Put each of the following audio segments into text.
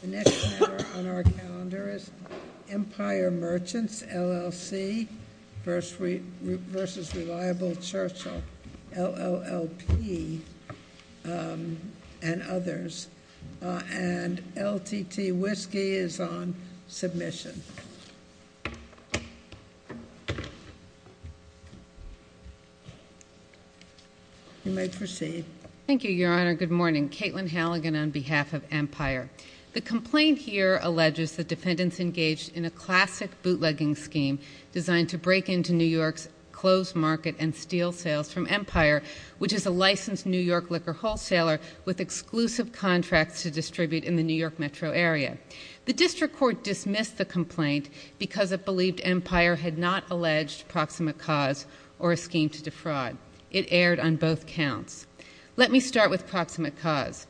The next item on our calendar is Empire Merchants, LLC v. Reliable Churchill, LLLP, and others. And LTT Whiskey is on submission. You may proceed. Thank you, Your Honor. Good morning. Caitlin Halligan on behalf of Empire. The complaint here alleges that defendants engaged in a classic bootlegging scheme designed to break into New York's closed market and steal sales from Empire, which is a licensed New York liquor wholesaler with exclusive contracts to distribute in the New York metro area. The district court dismissed the complaint because it believed Empire had not alleged proximate cause or a scheme to defraud. It erred on both counts. Let me start with proximate cause.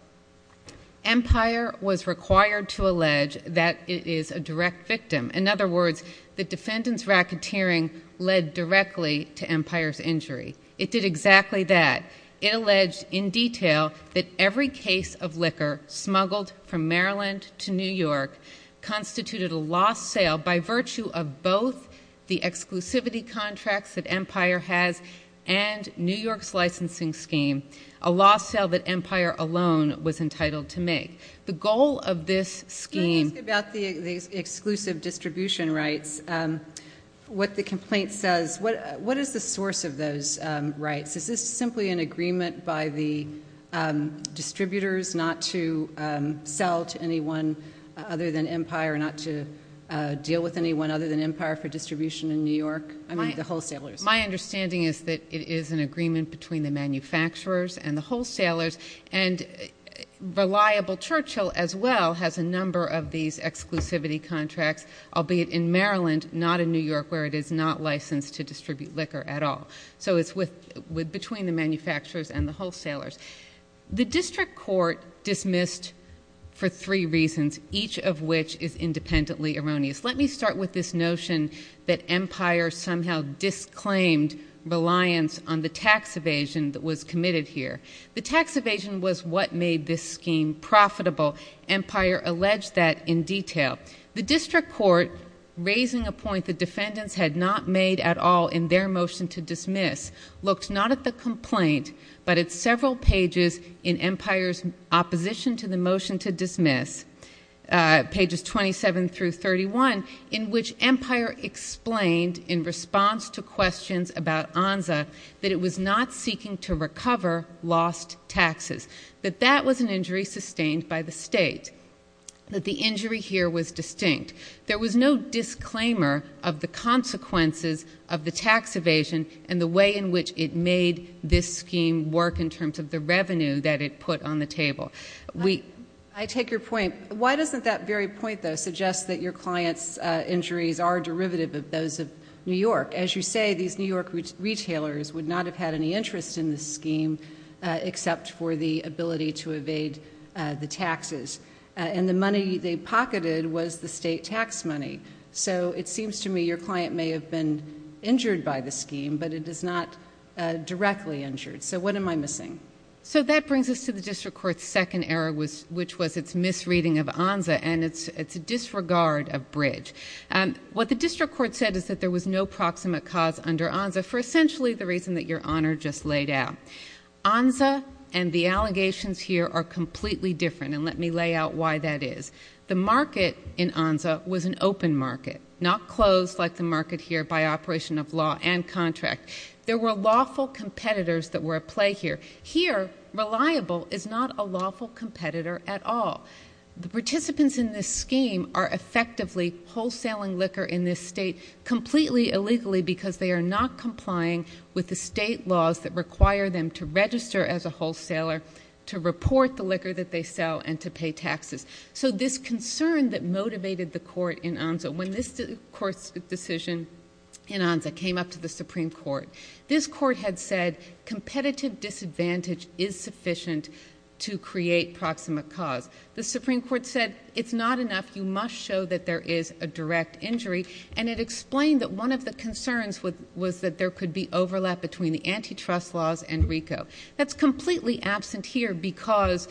Empire was required to allege that it is a direct victim. In other words, the defendant's racketeering led directly to Empire's injury. It did exactly that. It alleged in detail that every case of liquor smuggled from Maryland to New York constituted a lost sale by virtue of both the exclusivity contracts that Empire has and New York's licensing scheme, a lost sale that Empire alone was entitled to make. The goal of this scheme... Can I ask about the exclusive distribution rights? What the complaint says, what is the source of those rights? Is this simply an agreement by the distributors not to sell to anyone other than Empire, not to deal with anyone other than Empire for distribution in New York? I mean, the wholesalers. My understanding is that it is an agreement between the manufacturers and the wholesalers, and Reliable Churchill as well has a number of these exclusivity contracts, albeit in Maryland, not in New York, where it is not licensed to distribute liquor at all. So it's between the manufacturers and the wholesalers. The district court dismissed for three reasons, each of which is independently erroneous. Let me start with this notion that Empire somehow disclaimed reliance on the tax evasion that was committed here. The tax evasion was what made this scheme profitable. Empire alleged that in detail. The district court, raising a point the defendants had not made at all in their motion to dismiss, looked not at the complaint but at several pages in Empire's opposition to the motion to dismiss, pages 27 through 31, in which Empire explained in response to questions about ONSA that it was not seeking to recover lost taxes, that that was an injury sustained by the state, that the injury here was distinct. There was no disclaimer of the consequences of the tax evasion and the way in which it made this scheme work in terms of the revenue that it put on the table. I take your point. Why doesn't that very point, though, suggest that your clients' injuries are derivative of those of New York? As you say, these New York retailers would not have had any interest in this scheme except for the ability to evade the taxes. And the money they pocketed was the state tax money. So it seems to me your client may have been injured by the scheme, but it is not directly injured. So what am I missing? So that brings us to the district court's second error, which was its misreading of ONSA and its disregard of Bridge. What the district court said is that there was no proximate cause under ONSA for essentially the reason that Your Honor just laid out. ONSA and the allegations here are completely different, and let me lay out why that is. The market in ONSA was an open market, not closed like the market here by operation of law and contract. There were lawful competitors that were at play here. Here, reliable is not a lawful competitor at all. The participants in this scheme are effectively wholesaling liquor in this state completely illegally because they are not complying with the state laws that require them to register as a wholesaler, to report the liquor that they sell, and to pay taxes. So this concern that motivated the court in ONSA, when this court's decision in ONSA came up to the Supreme Court, this court had said competitive disadvantage is sufficient to create proximate cause. The Supreme Court said it's not enough, you must show that there is a direct injury, and it explained that one of the concerns was that there could be overlap between the antitrust laws and RICO. That's completely absent here because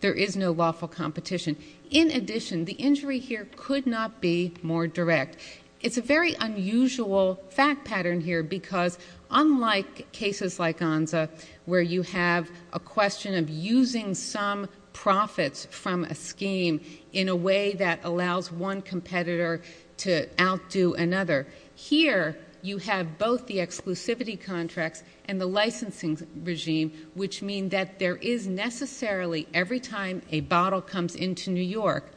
there is no lawful competition. In addition, the injury here could not be more direct. It's a very unusual fact pattern here because unlike cases like ONSA, where you have a question of using some profits from a scheme in a way that allows one competitor to outdo another, here you have both the exclusivity contracts and the licensing regime, which mean that there is necessarily, every time a bottle comes into New York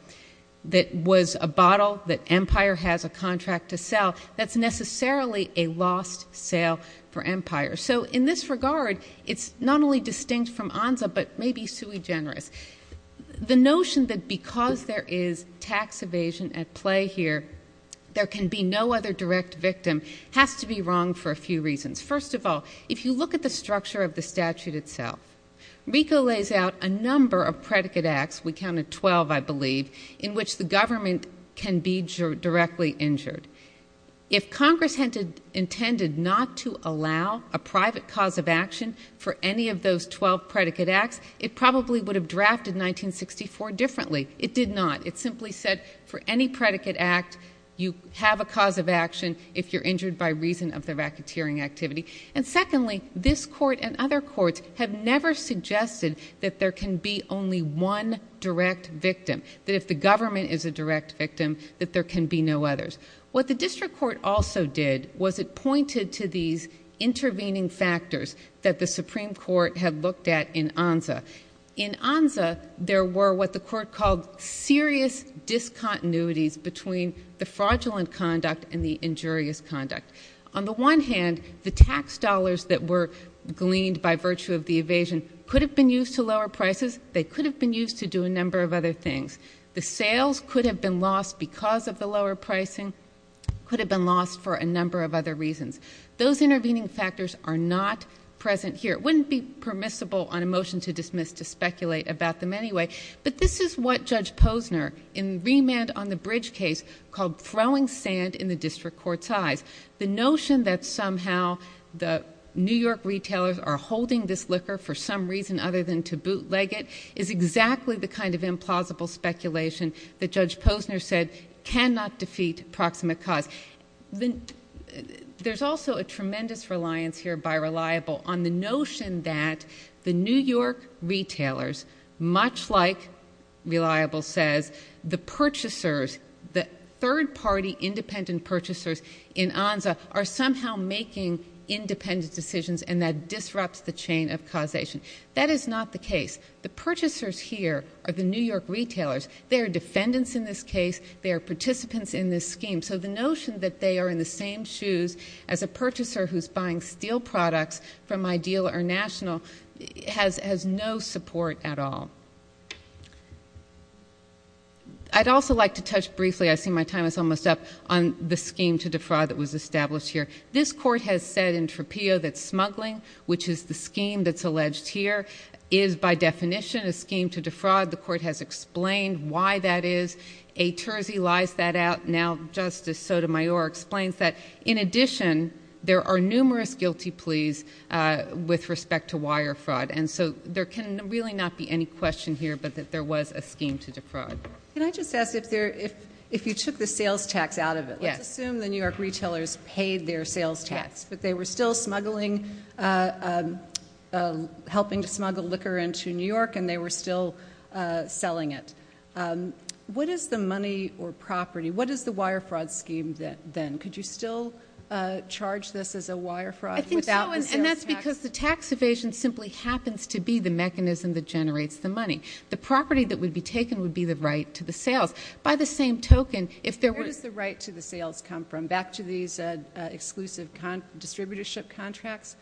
that was a bottle that Empire has a contract to sell, that's necessarily a lost sale for Empire. So in this regard, it's not only distinct from ONSA, but maybe sui generis. The notion that because there is tax evasion at play here, there can be no other direct victim has to be wrong for a few reasons. First of all, if you look at the structure of the statute itself, RICO lays out a number of predicate acts, we counted 12 I believe, in which the government can be directly injured. If Congress intended not to allow a private cause of action for any of those 12 predicate acts, it probably would have drafted 1964 differently. It did not. It simply said for any predicate act, you have a cause of action if you're injured by reason of the racketeering activity. And secondly, this court and other courts have never suggested that there can be only one direct victim, that if the government is a direct victim, that there can be no others. What the district court also did was it pointed to these intervening factors In ONSA, there were what the court called serious discontinuities between the fraudulent conduct and the injurious conduct. On the one hand, the tax dollars that were gleaned by virtue of the evasion could have been used to lower prices. They could have been used to do a number of other things. The sales could have been lost because of the lower pricing, could have been lost for a number of other reasons. Those intervening factors are not present here. It wouldn't be permissible on a motion to dismiss to speculate about them anyway. But this is what Judge Posner, in remand on the Bridge case, called throwing sand in the district court's eyes. The notion that somehow the New York retailers are holding this liquor for some reason other than to bootleg it is exactly the kind of implausible speculation that Judge Posner said cannot defeat proximate cause. There's also a tremendous reliance here by Reliable on the notion that the New York retailers, much like Reliable says, the purchasers, the third-party independent purchasers in ONSA, are somehow making independent decisions and that disrupts the chain of causation. That is not the case. The purchasers here are the New York retailers. They are defendants in this case. They are participants in this scheme. So the notion that they are in the same shoes as a purchaser who's buying steel products from Ideal or National has no support at all. I'd also like to touch briefly, I see my time is almost up, on the scheme to defraud that was established here. This court has said in Tropeo that smuggling, which is the scheme that's alleged here, is by definition a scheme to defraud. The court has explained why that is. A Terzi lies that out now, Justice Sotomayor explains that. In addition, there are numerous guilty pleas with respect to wire fraud. And so there can really not be any question here but that there was a scheme to defraud. Can I just ask if you took the sales tax out of it? Yes. Let's assume the New York retailers paid their sales tax but they were still smuggling, helping to smuggle liquor into New York and they were still selling it. What is the money or property, what is the wire fraud scheme then? Could you still charge this as a wire fraud without the sales tax? I think so, and that's because the tax evasion simply happens to be the mechanism that generates the money. The property that would be taken would be the right to the sales. By the same token, if there were- Where does the right to the sales come from? Back to these exclusive distributorship contracts?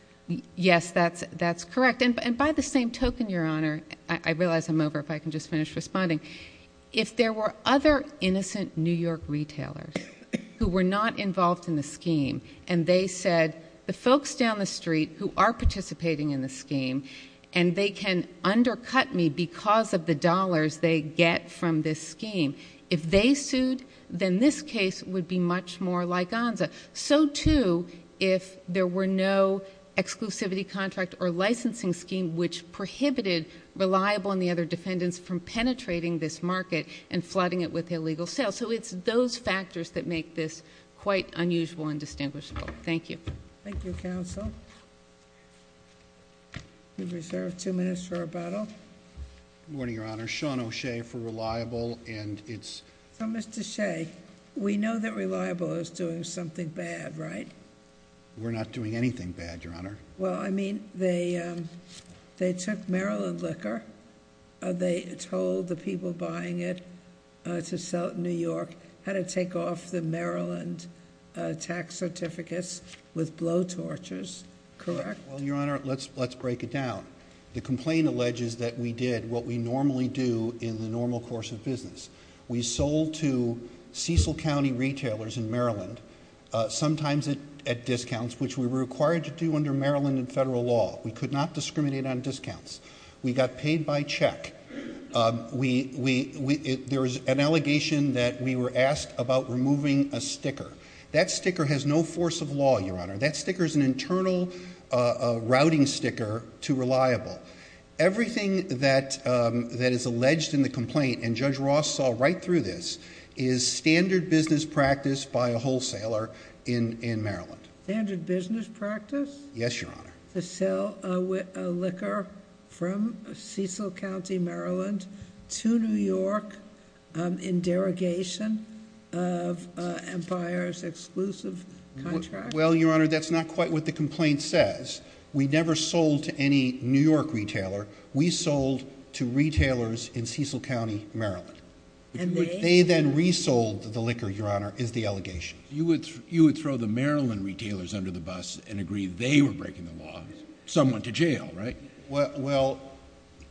Yes, that's correct. And by the same token, Your Honor, I realize I'm over if I can just finish responding. If there were other innocent New York retailers who were not involved in the scheme and they said, the folks down the street who are participating in the scheme and they can undercut me because of the dollars they get from this scheme, if they sued, then this case would be much more like ONSA. So, too, if there were no exclusivity contract or licensing scheme which prohibited Reliable and the other defendants from penetrating this market and flooding it with illegal sales. So it's those factors that make this quite unusual and distinguishable. Thank you. Thank you, counsel. We reserve two minutes for rebuttal. Good morning, Your Honor. Sean O'Shea for Reliable, and it's- So, Mr. O'Shea, we know that Reliable is doing something bad, right? We're not doing anything bad, Your Honor. Well, I mean, they took Maryland liquor. They told the people buying it to sell it in New York how to take off the Maryland tax certificates with blow torches, correct? Well, Your Honor, let's break it down. The complaint alleges that we did what we normally do in the normal course of business. We sold to Cecil County retailers in Maryland, sometimes at discounts, which we were required to do under Maryland and federal law. We could not discriminate on discounts. We got paid by check. There was an allegation that we were asked about removing a sticker. That sticker has no force of law, Your Honor. That sticker is an internal routing sticker to Reliable. Everything that is alleged in the complaint, and Judge Ross saw right through this, is standard business practice by a wholesaler in Maryland. Standard business practice? Yes, Your Honor. To sell liquor from Cecil County, Maryland to New York in derogation of Empire's exclusive contract? Well, Your Honor, that's not quite what the complaint says. We never sold to any New York retailer. We sold to retailers in Cecil County, Maryland. And they? They then resold the liquor, Your Honor, is the allegation. You would throw the Maryland retailers under the bus and agree they were breaking the law. Some went to jail, right? Well,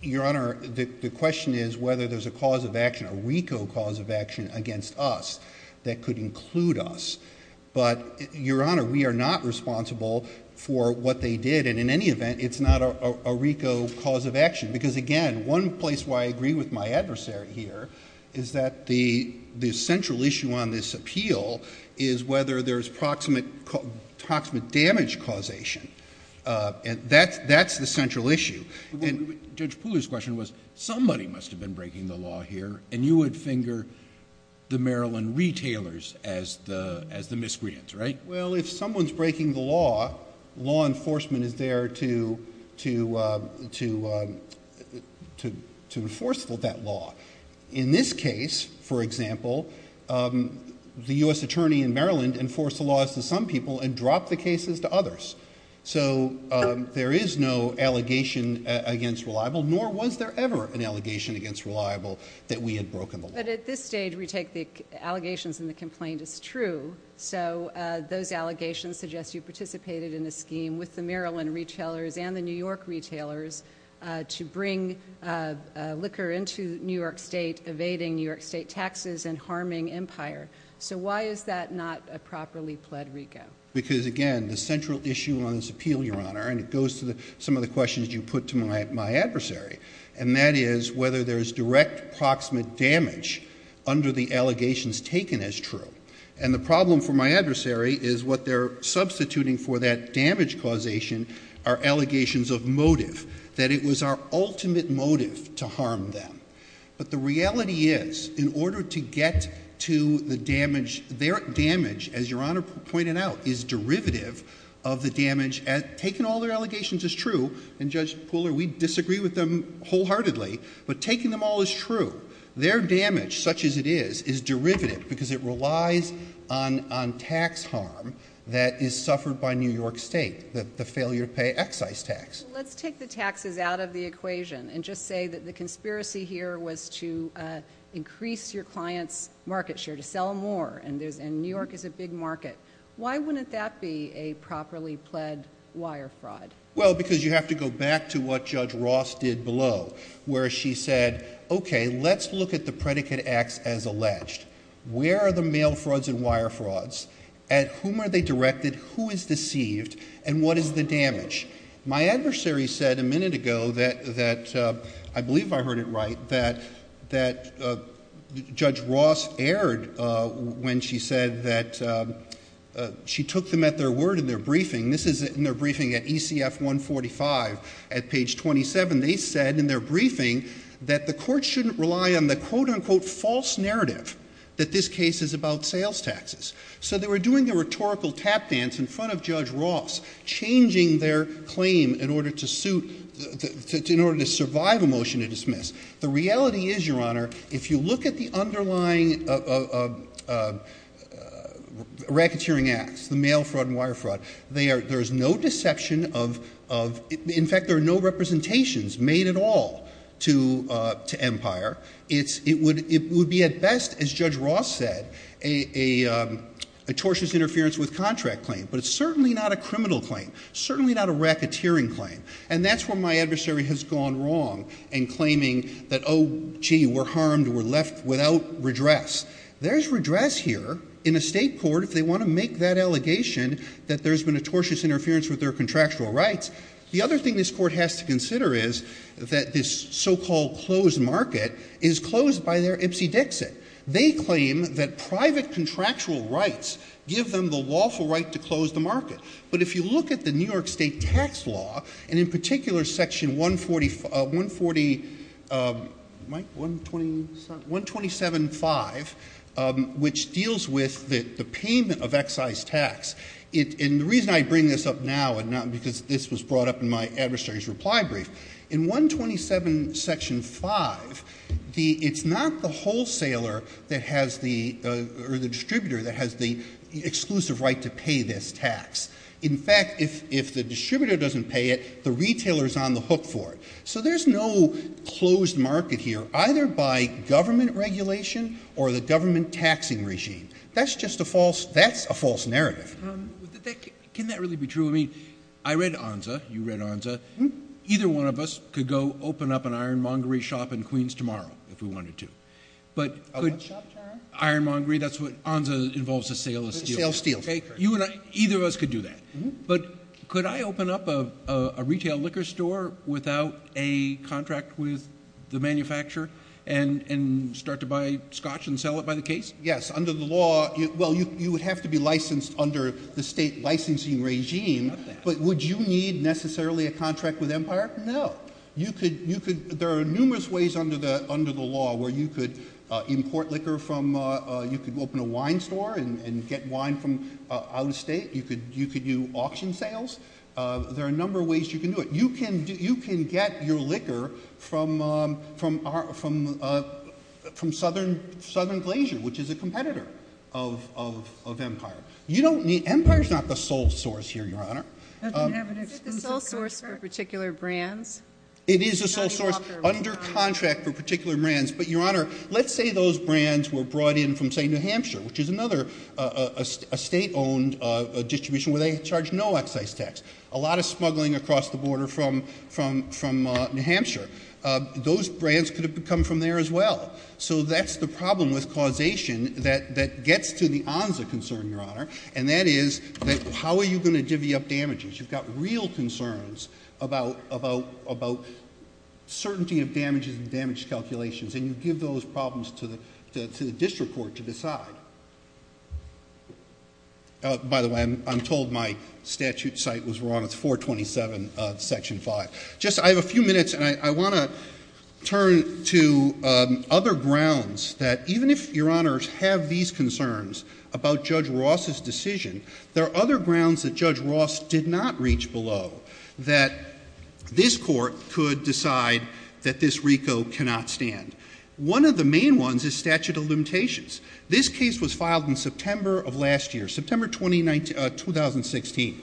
Your Honor, the question is whether there's a cause of action, a RICO cause of action, against us that could include us. But, Your Honor, we are not responsible for what they did. And in any event, it's not a RICO cause of action. Because, again, one place why I agree with my adversary here is that the central issue on this appeal is whether there's proximate damage causation. That's the central issue. Judge Pooler's question was, somebody must have been breaking the law here, and you would finger the Maryland retailers as the miscreants, right? Well, if someone's breaking the law, law enforcement is there to enforce that law. In this case, for example, the U.S. attorney in Maryland enforced the laws to some people and dropped the cases to others. So there is no allegation against Reliable, nor was there ever an allegation against Reliable that we had broken the law. But at this stage, we take the allegations and the complaint as true. So those allegations suggest you participated in a scheme with the Maryland retailers and the New York retailers to bring liquor into New York State, evading New York State taxes and harming Empire. So why is that not a properly pled RICO? And it goes to some of the questions you put to my adversary, and that is whether there's direct proximate damage under the allegations taken as true. And the problem for my adversary is what they're substituting for that damage causation are allegations of motive, that it was our ultimate motive to harm them. But the reality is, in order to get to the damage, their damage, as Your Honor pointed out, is derivative of the damage. Taking all their allegations is true, and Judge Pooler, we disagree with them wholeheartedly, but taking them all is true. Their damage, such as it is, is derivative because it relies on tax harm that is suffered by New York State, the failure to pay excise tax. Let's take the taxes out of the equation and just say that the conspiracy here was to increase your client's market share, to sell more, and New York is a big market. Why wouldn't that be a properly pled wire fraud? Well, because you have to go back to what Judge Ross did below, where she said, okay, let's look at the predicate acts as alleged. Where are the mail frauds and wire frauds? At whom are they directed? Who is deceived? And what is the damage? My adversary said a minute ago that, I believe I heard it right, that Judge Ross erred when she said that she took them at their word in their briefing. This is in their briefing at ECF 145 at page 27. They said in their briefing that the court shouldn't rely on the quote, unquote, false narrative that this case is about sales taxes. So they were doing the rhetorical tap dance in front of Judge Ross, changing their claim in order to survive a motion to dismiss. The reality is, Your Honor, if you look at the underlying racketeering acts, the mail fraud and wire fraud, there is no deception of, in fact, there are no representations made at all to Empire. It would be at best, as Judge Ross said, a tortious interference with contract claim. But it's certainly not a criminal claim, certainly not a racketeering claim. And that's where my adversary has gone wrong in claiming that, oh, gee, we're harmed, we're left without redress. There's redress here in a state court if they want to make that allegation that there's been a tortious interference with their contractual rights. The other thing this court has to consider is that this so-called closed market is closed by their Ipsy Dixit. They claim that private contractual rights give them the lawful right to close the market. But if you look at the New York State tax law, and in particular Section 140, Mike, 127.5, which deals with the payment of excise tax, and the reason I bring this up now, because this was brought up in my adversary's reply brief, in 127.5, it's not the distributor that has the exclusive right to pay this tax. In fact, if the distributor doesn't pay it, the retailer is on the hook for it. So there's no closed market here, either by government regulation or the government taxing regime. That's just a false narrative. Can that really be true? I read ONSA. You read ONSA. Either one of us could go open up an ironmongery shop in Queens tomorrow, if we wanted to. What shop, Tara? Ironmongery. ONSA involves a sale of steel. A sale of steel. Either of us could do that. But could I open up a retail liquor store without a contract with the manufacturer and start to buy scotch and sell it by the case? Yes. Under the law, well, you would have to be licensed under the state licensing regime. But would you need necessarily a contract with Empire? No. There are numerous ways under the law where you could import liquor from, you could open a wine store and get wine from out of state. You could do auction sales. There are a number of ways you can do it. You can get your liquor from Southern Glacier, which is a competitor of Empire. Empire is not the sole source here, Your Honor. Is it the sole source for particular brands? It is the sole source under contract for particular brands. But, Your Honor, let's say those brands were brought in from, say, New Hampshire, which is another state-owned distribution where they charge no excise tax. A lot of smuggling across the border from New Hampshire. Those brands could have come from there as well. So that's the problem with causation that gets to the ansa concern, Your Honor, and that is how are you going to divvy up damages? You've got real concerns about certainty of damages and damage calculations, By the way, I'm told my statute site was wrong. It's 427 of Section 5. Just, I have a few minutes, and I want to turn to other grounds that even if, Your Honors, have these concerns about Judge Ross's decision, there are other grounds that Judge Ross did not reach below that this court could decide that this RICO cannot stand. One of the main ones is statute of limitations. This case was filed in September of last year, September 2016.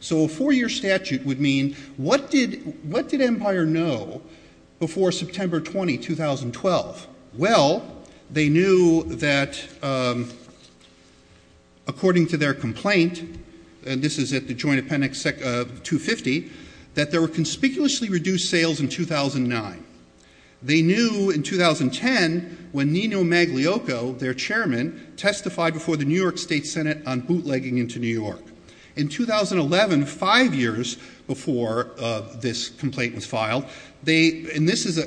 So a four-year statute would mean what did Empire know before September 20, 2012? Well, they knew that according to their complaint, and this is at the Joint Appendix 250, that there were conspicuously reduced sales in 2009. They knew in 2010 when Nino Magliocco, their chairman, testified before the New York State Senate on bootlegging into New York. In 2011, five years before this complaint was filed, and this is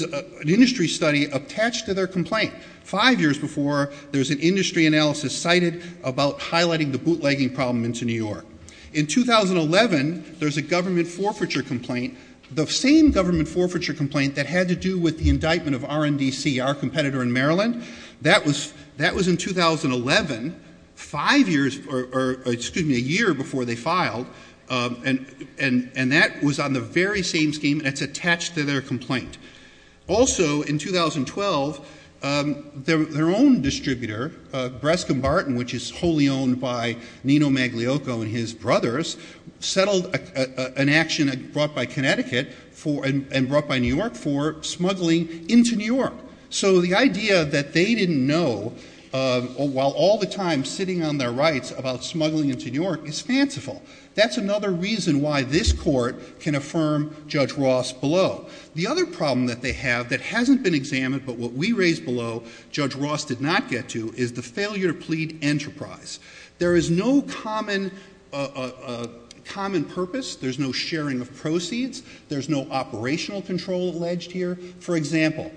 an industry study attached to their complaint, five years before there's an industry analysis cited about highlighting the bootlegging problem into New York. In 2011, there's a government forfeiture complaint. The same government forfeiture complaint that had to do with the indictment of RNDC, our competitor in Maryland, that was in 2011, a year before they filed, and that was on the very same scheme that's attached to their complaint. Also, in 2012, their own distributor, Brescomb Barton, which is wholly owned by Nino Magliocco and his brothers, settled an action brought by Connecticut and brought by New York for smuggling into New York. So the idea that they didn't know, while all the time sitting on their rights about smuggling into New York, is fanciful. That's another reason why this court can affirm Judge Ross below. The other problem that they have that hasn't been examined, but what we raised below Judge Ross did not get to, is the failure to plead enterprise. There is no common purpose. There's no sharing of proceeds. There's no operational control alleged here. For example,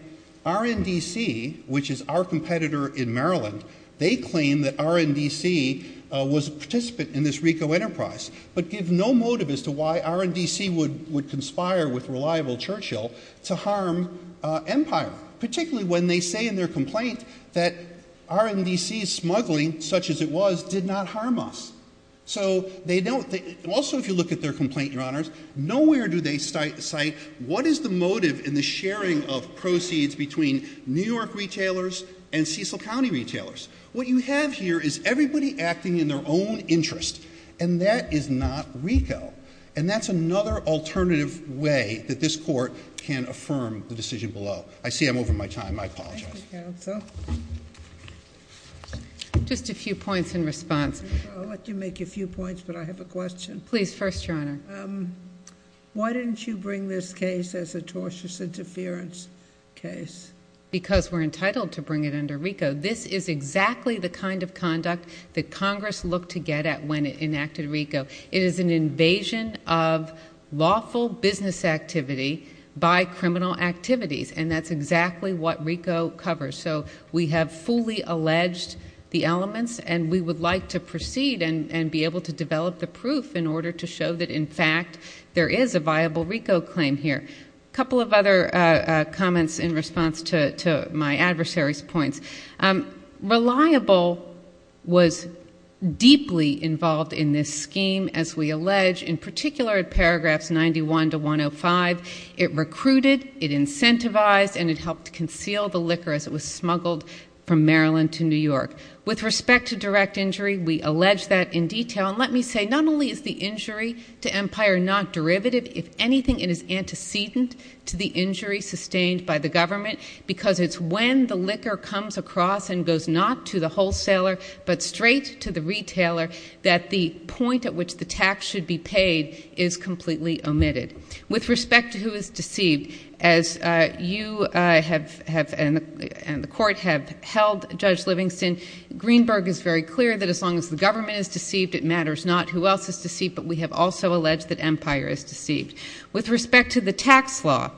RNDC, which is our competitor in Maryland, they claim that RNDC was a participant in this RICO enterprise, but give no motive as to why RNDC would conspire with Reliable Churchill to harm Empire, particularly when they say in their complaint that RNDC's smuggling, such as it was, did not harm us. Also, if you look at their complaint, Your Honors, nowhere do they cite what is the motive in the sharing of proceeds between New York retailers and Cecil County retailers. What you have here is everybody acting in their own interest, and that is not RICO. And that's another alternative way that this court can affirm the decision below. I see I'm over my time. I apologize. Thank you, Counsel. Just a few points in response. I'll let you make a few points, but I have a question. Please, first, Your Honor. Why didn't you bring this case as a tortious interference case? Because we're entitled to bring it under RICO. This is exactly the kind of conduct that Congress looked to get at when it enacted RICO. It is an invasion of lawful business activity by criminal activities, and that's exactly what RICO covers. So we have fully alleged the elements, and we would like to proceed and be able to develop the proof in order to show that, in fact, there is a viable RICO claim here. A couple of other comments in response to my adversary's points. Reliable was deeply involved in this scheme, as we allege, in particular at paragraphs 91 to 105. It recruited, it incentivized, and it helped conceal the liquor as it was smuggled from Maryland to New York. With respect to direct injury, we allege that in detail. And let me say, not only is the injury to Empire not derivative, if anything it is antecedent to the injury sustained by the government because it's when the liquor comes across and goes not to the wholesaler but straight to the retailer that the point at which the tax should be paid is completely omitted. With respect to who is deceived, as you and the court have held, Judge Livingston, Greenberg is very clear that as long as the government is deceived, it matters not who else is deceived, but we have also alleged that Empire is deceived. With respect to the tax law,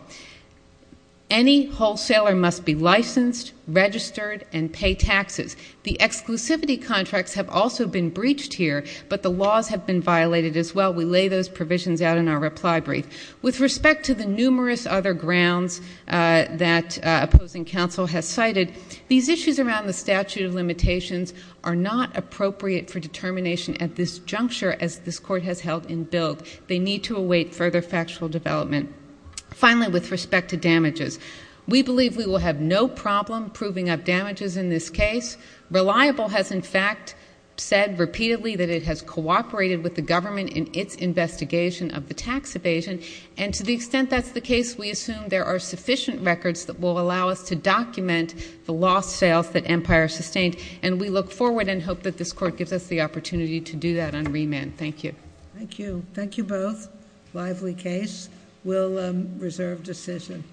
any wholesaler must be licensed, registered, and pay taxes. The exclusivity contracts have also been breached here, but the laws have been violated as well. We lay those provisions out in our reply brief. With respect to the numerous other grounds that opposing counsel has cited, these issues around the statute of limitations are not appropriate for determination at this juncture, as this court has held in Bill. They need to await further factual development. Finally, with respect to damages, we believe we will have no problem proving up damages in this case. Reliable has, in fact, said repeatedly that it has cooperated with the government in its investigation of the tax evasion, and to the extent that's the case, we assume there are sufficient records that will allow us to document the lost sales that Empire sustained, and we look forward and hope that this court gives us the opportunity to do that on remand. Thank you. Thank you. Thank you both. Lively case. We'll reserve decision.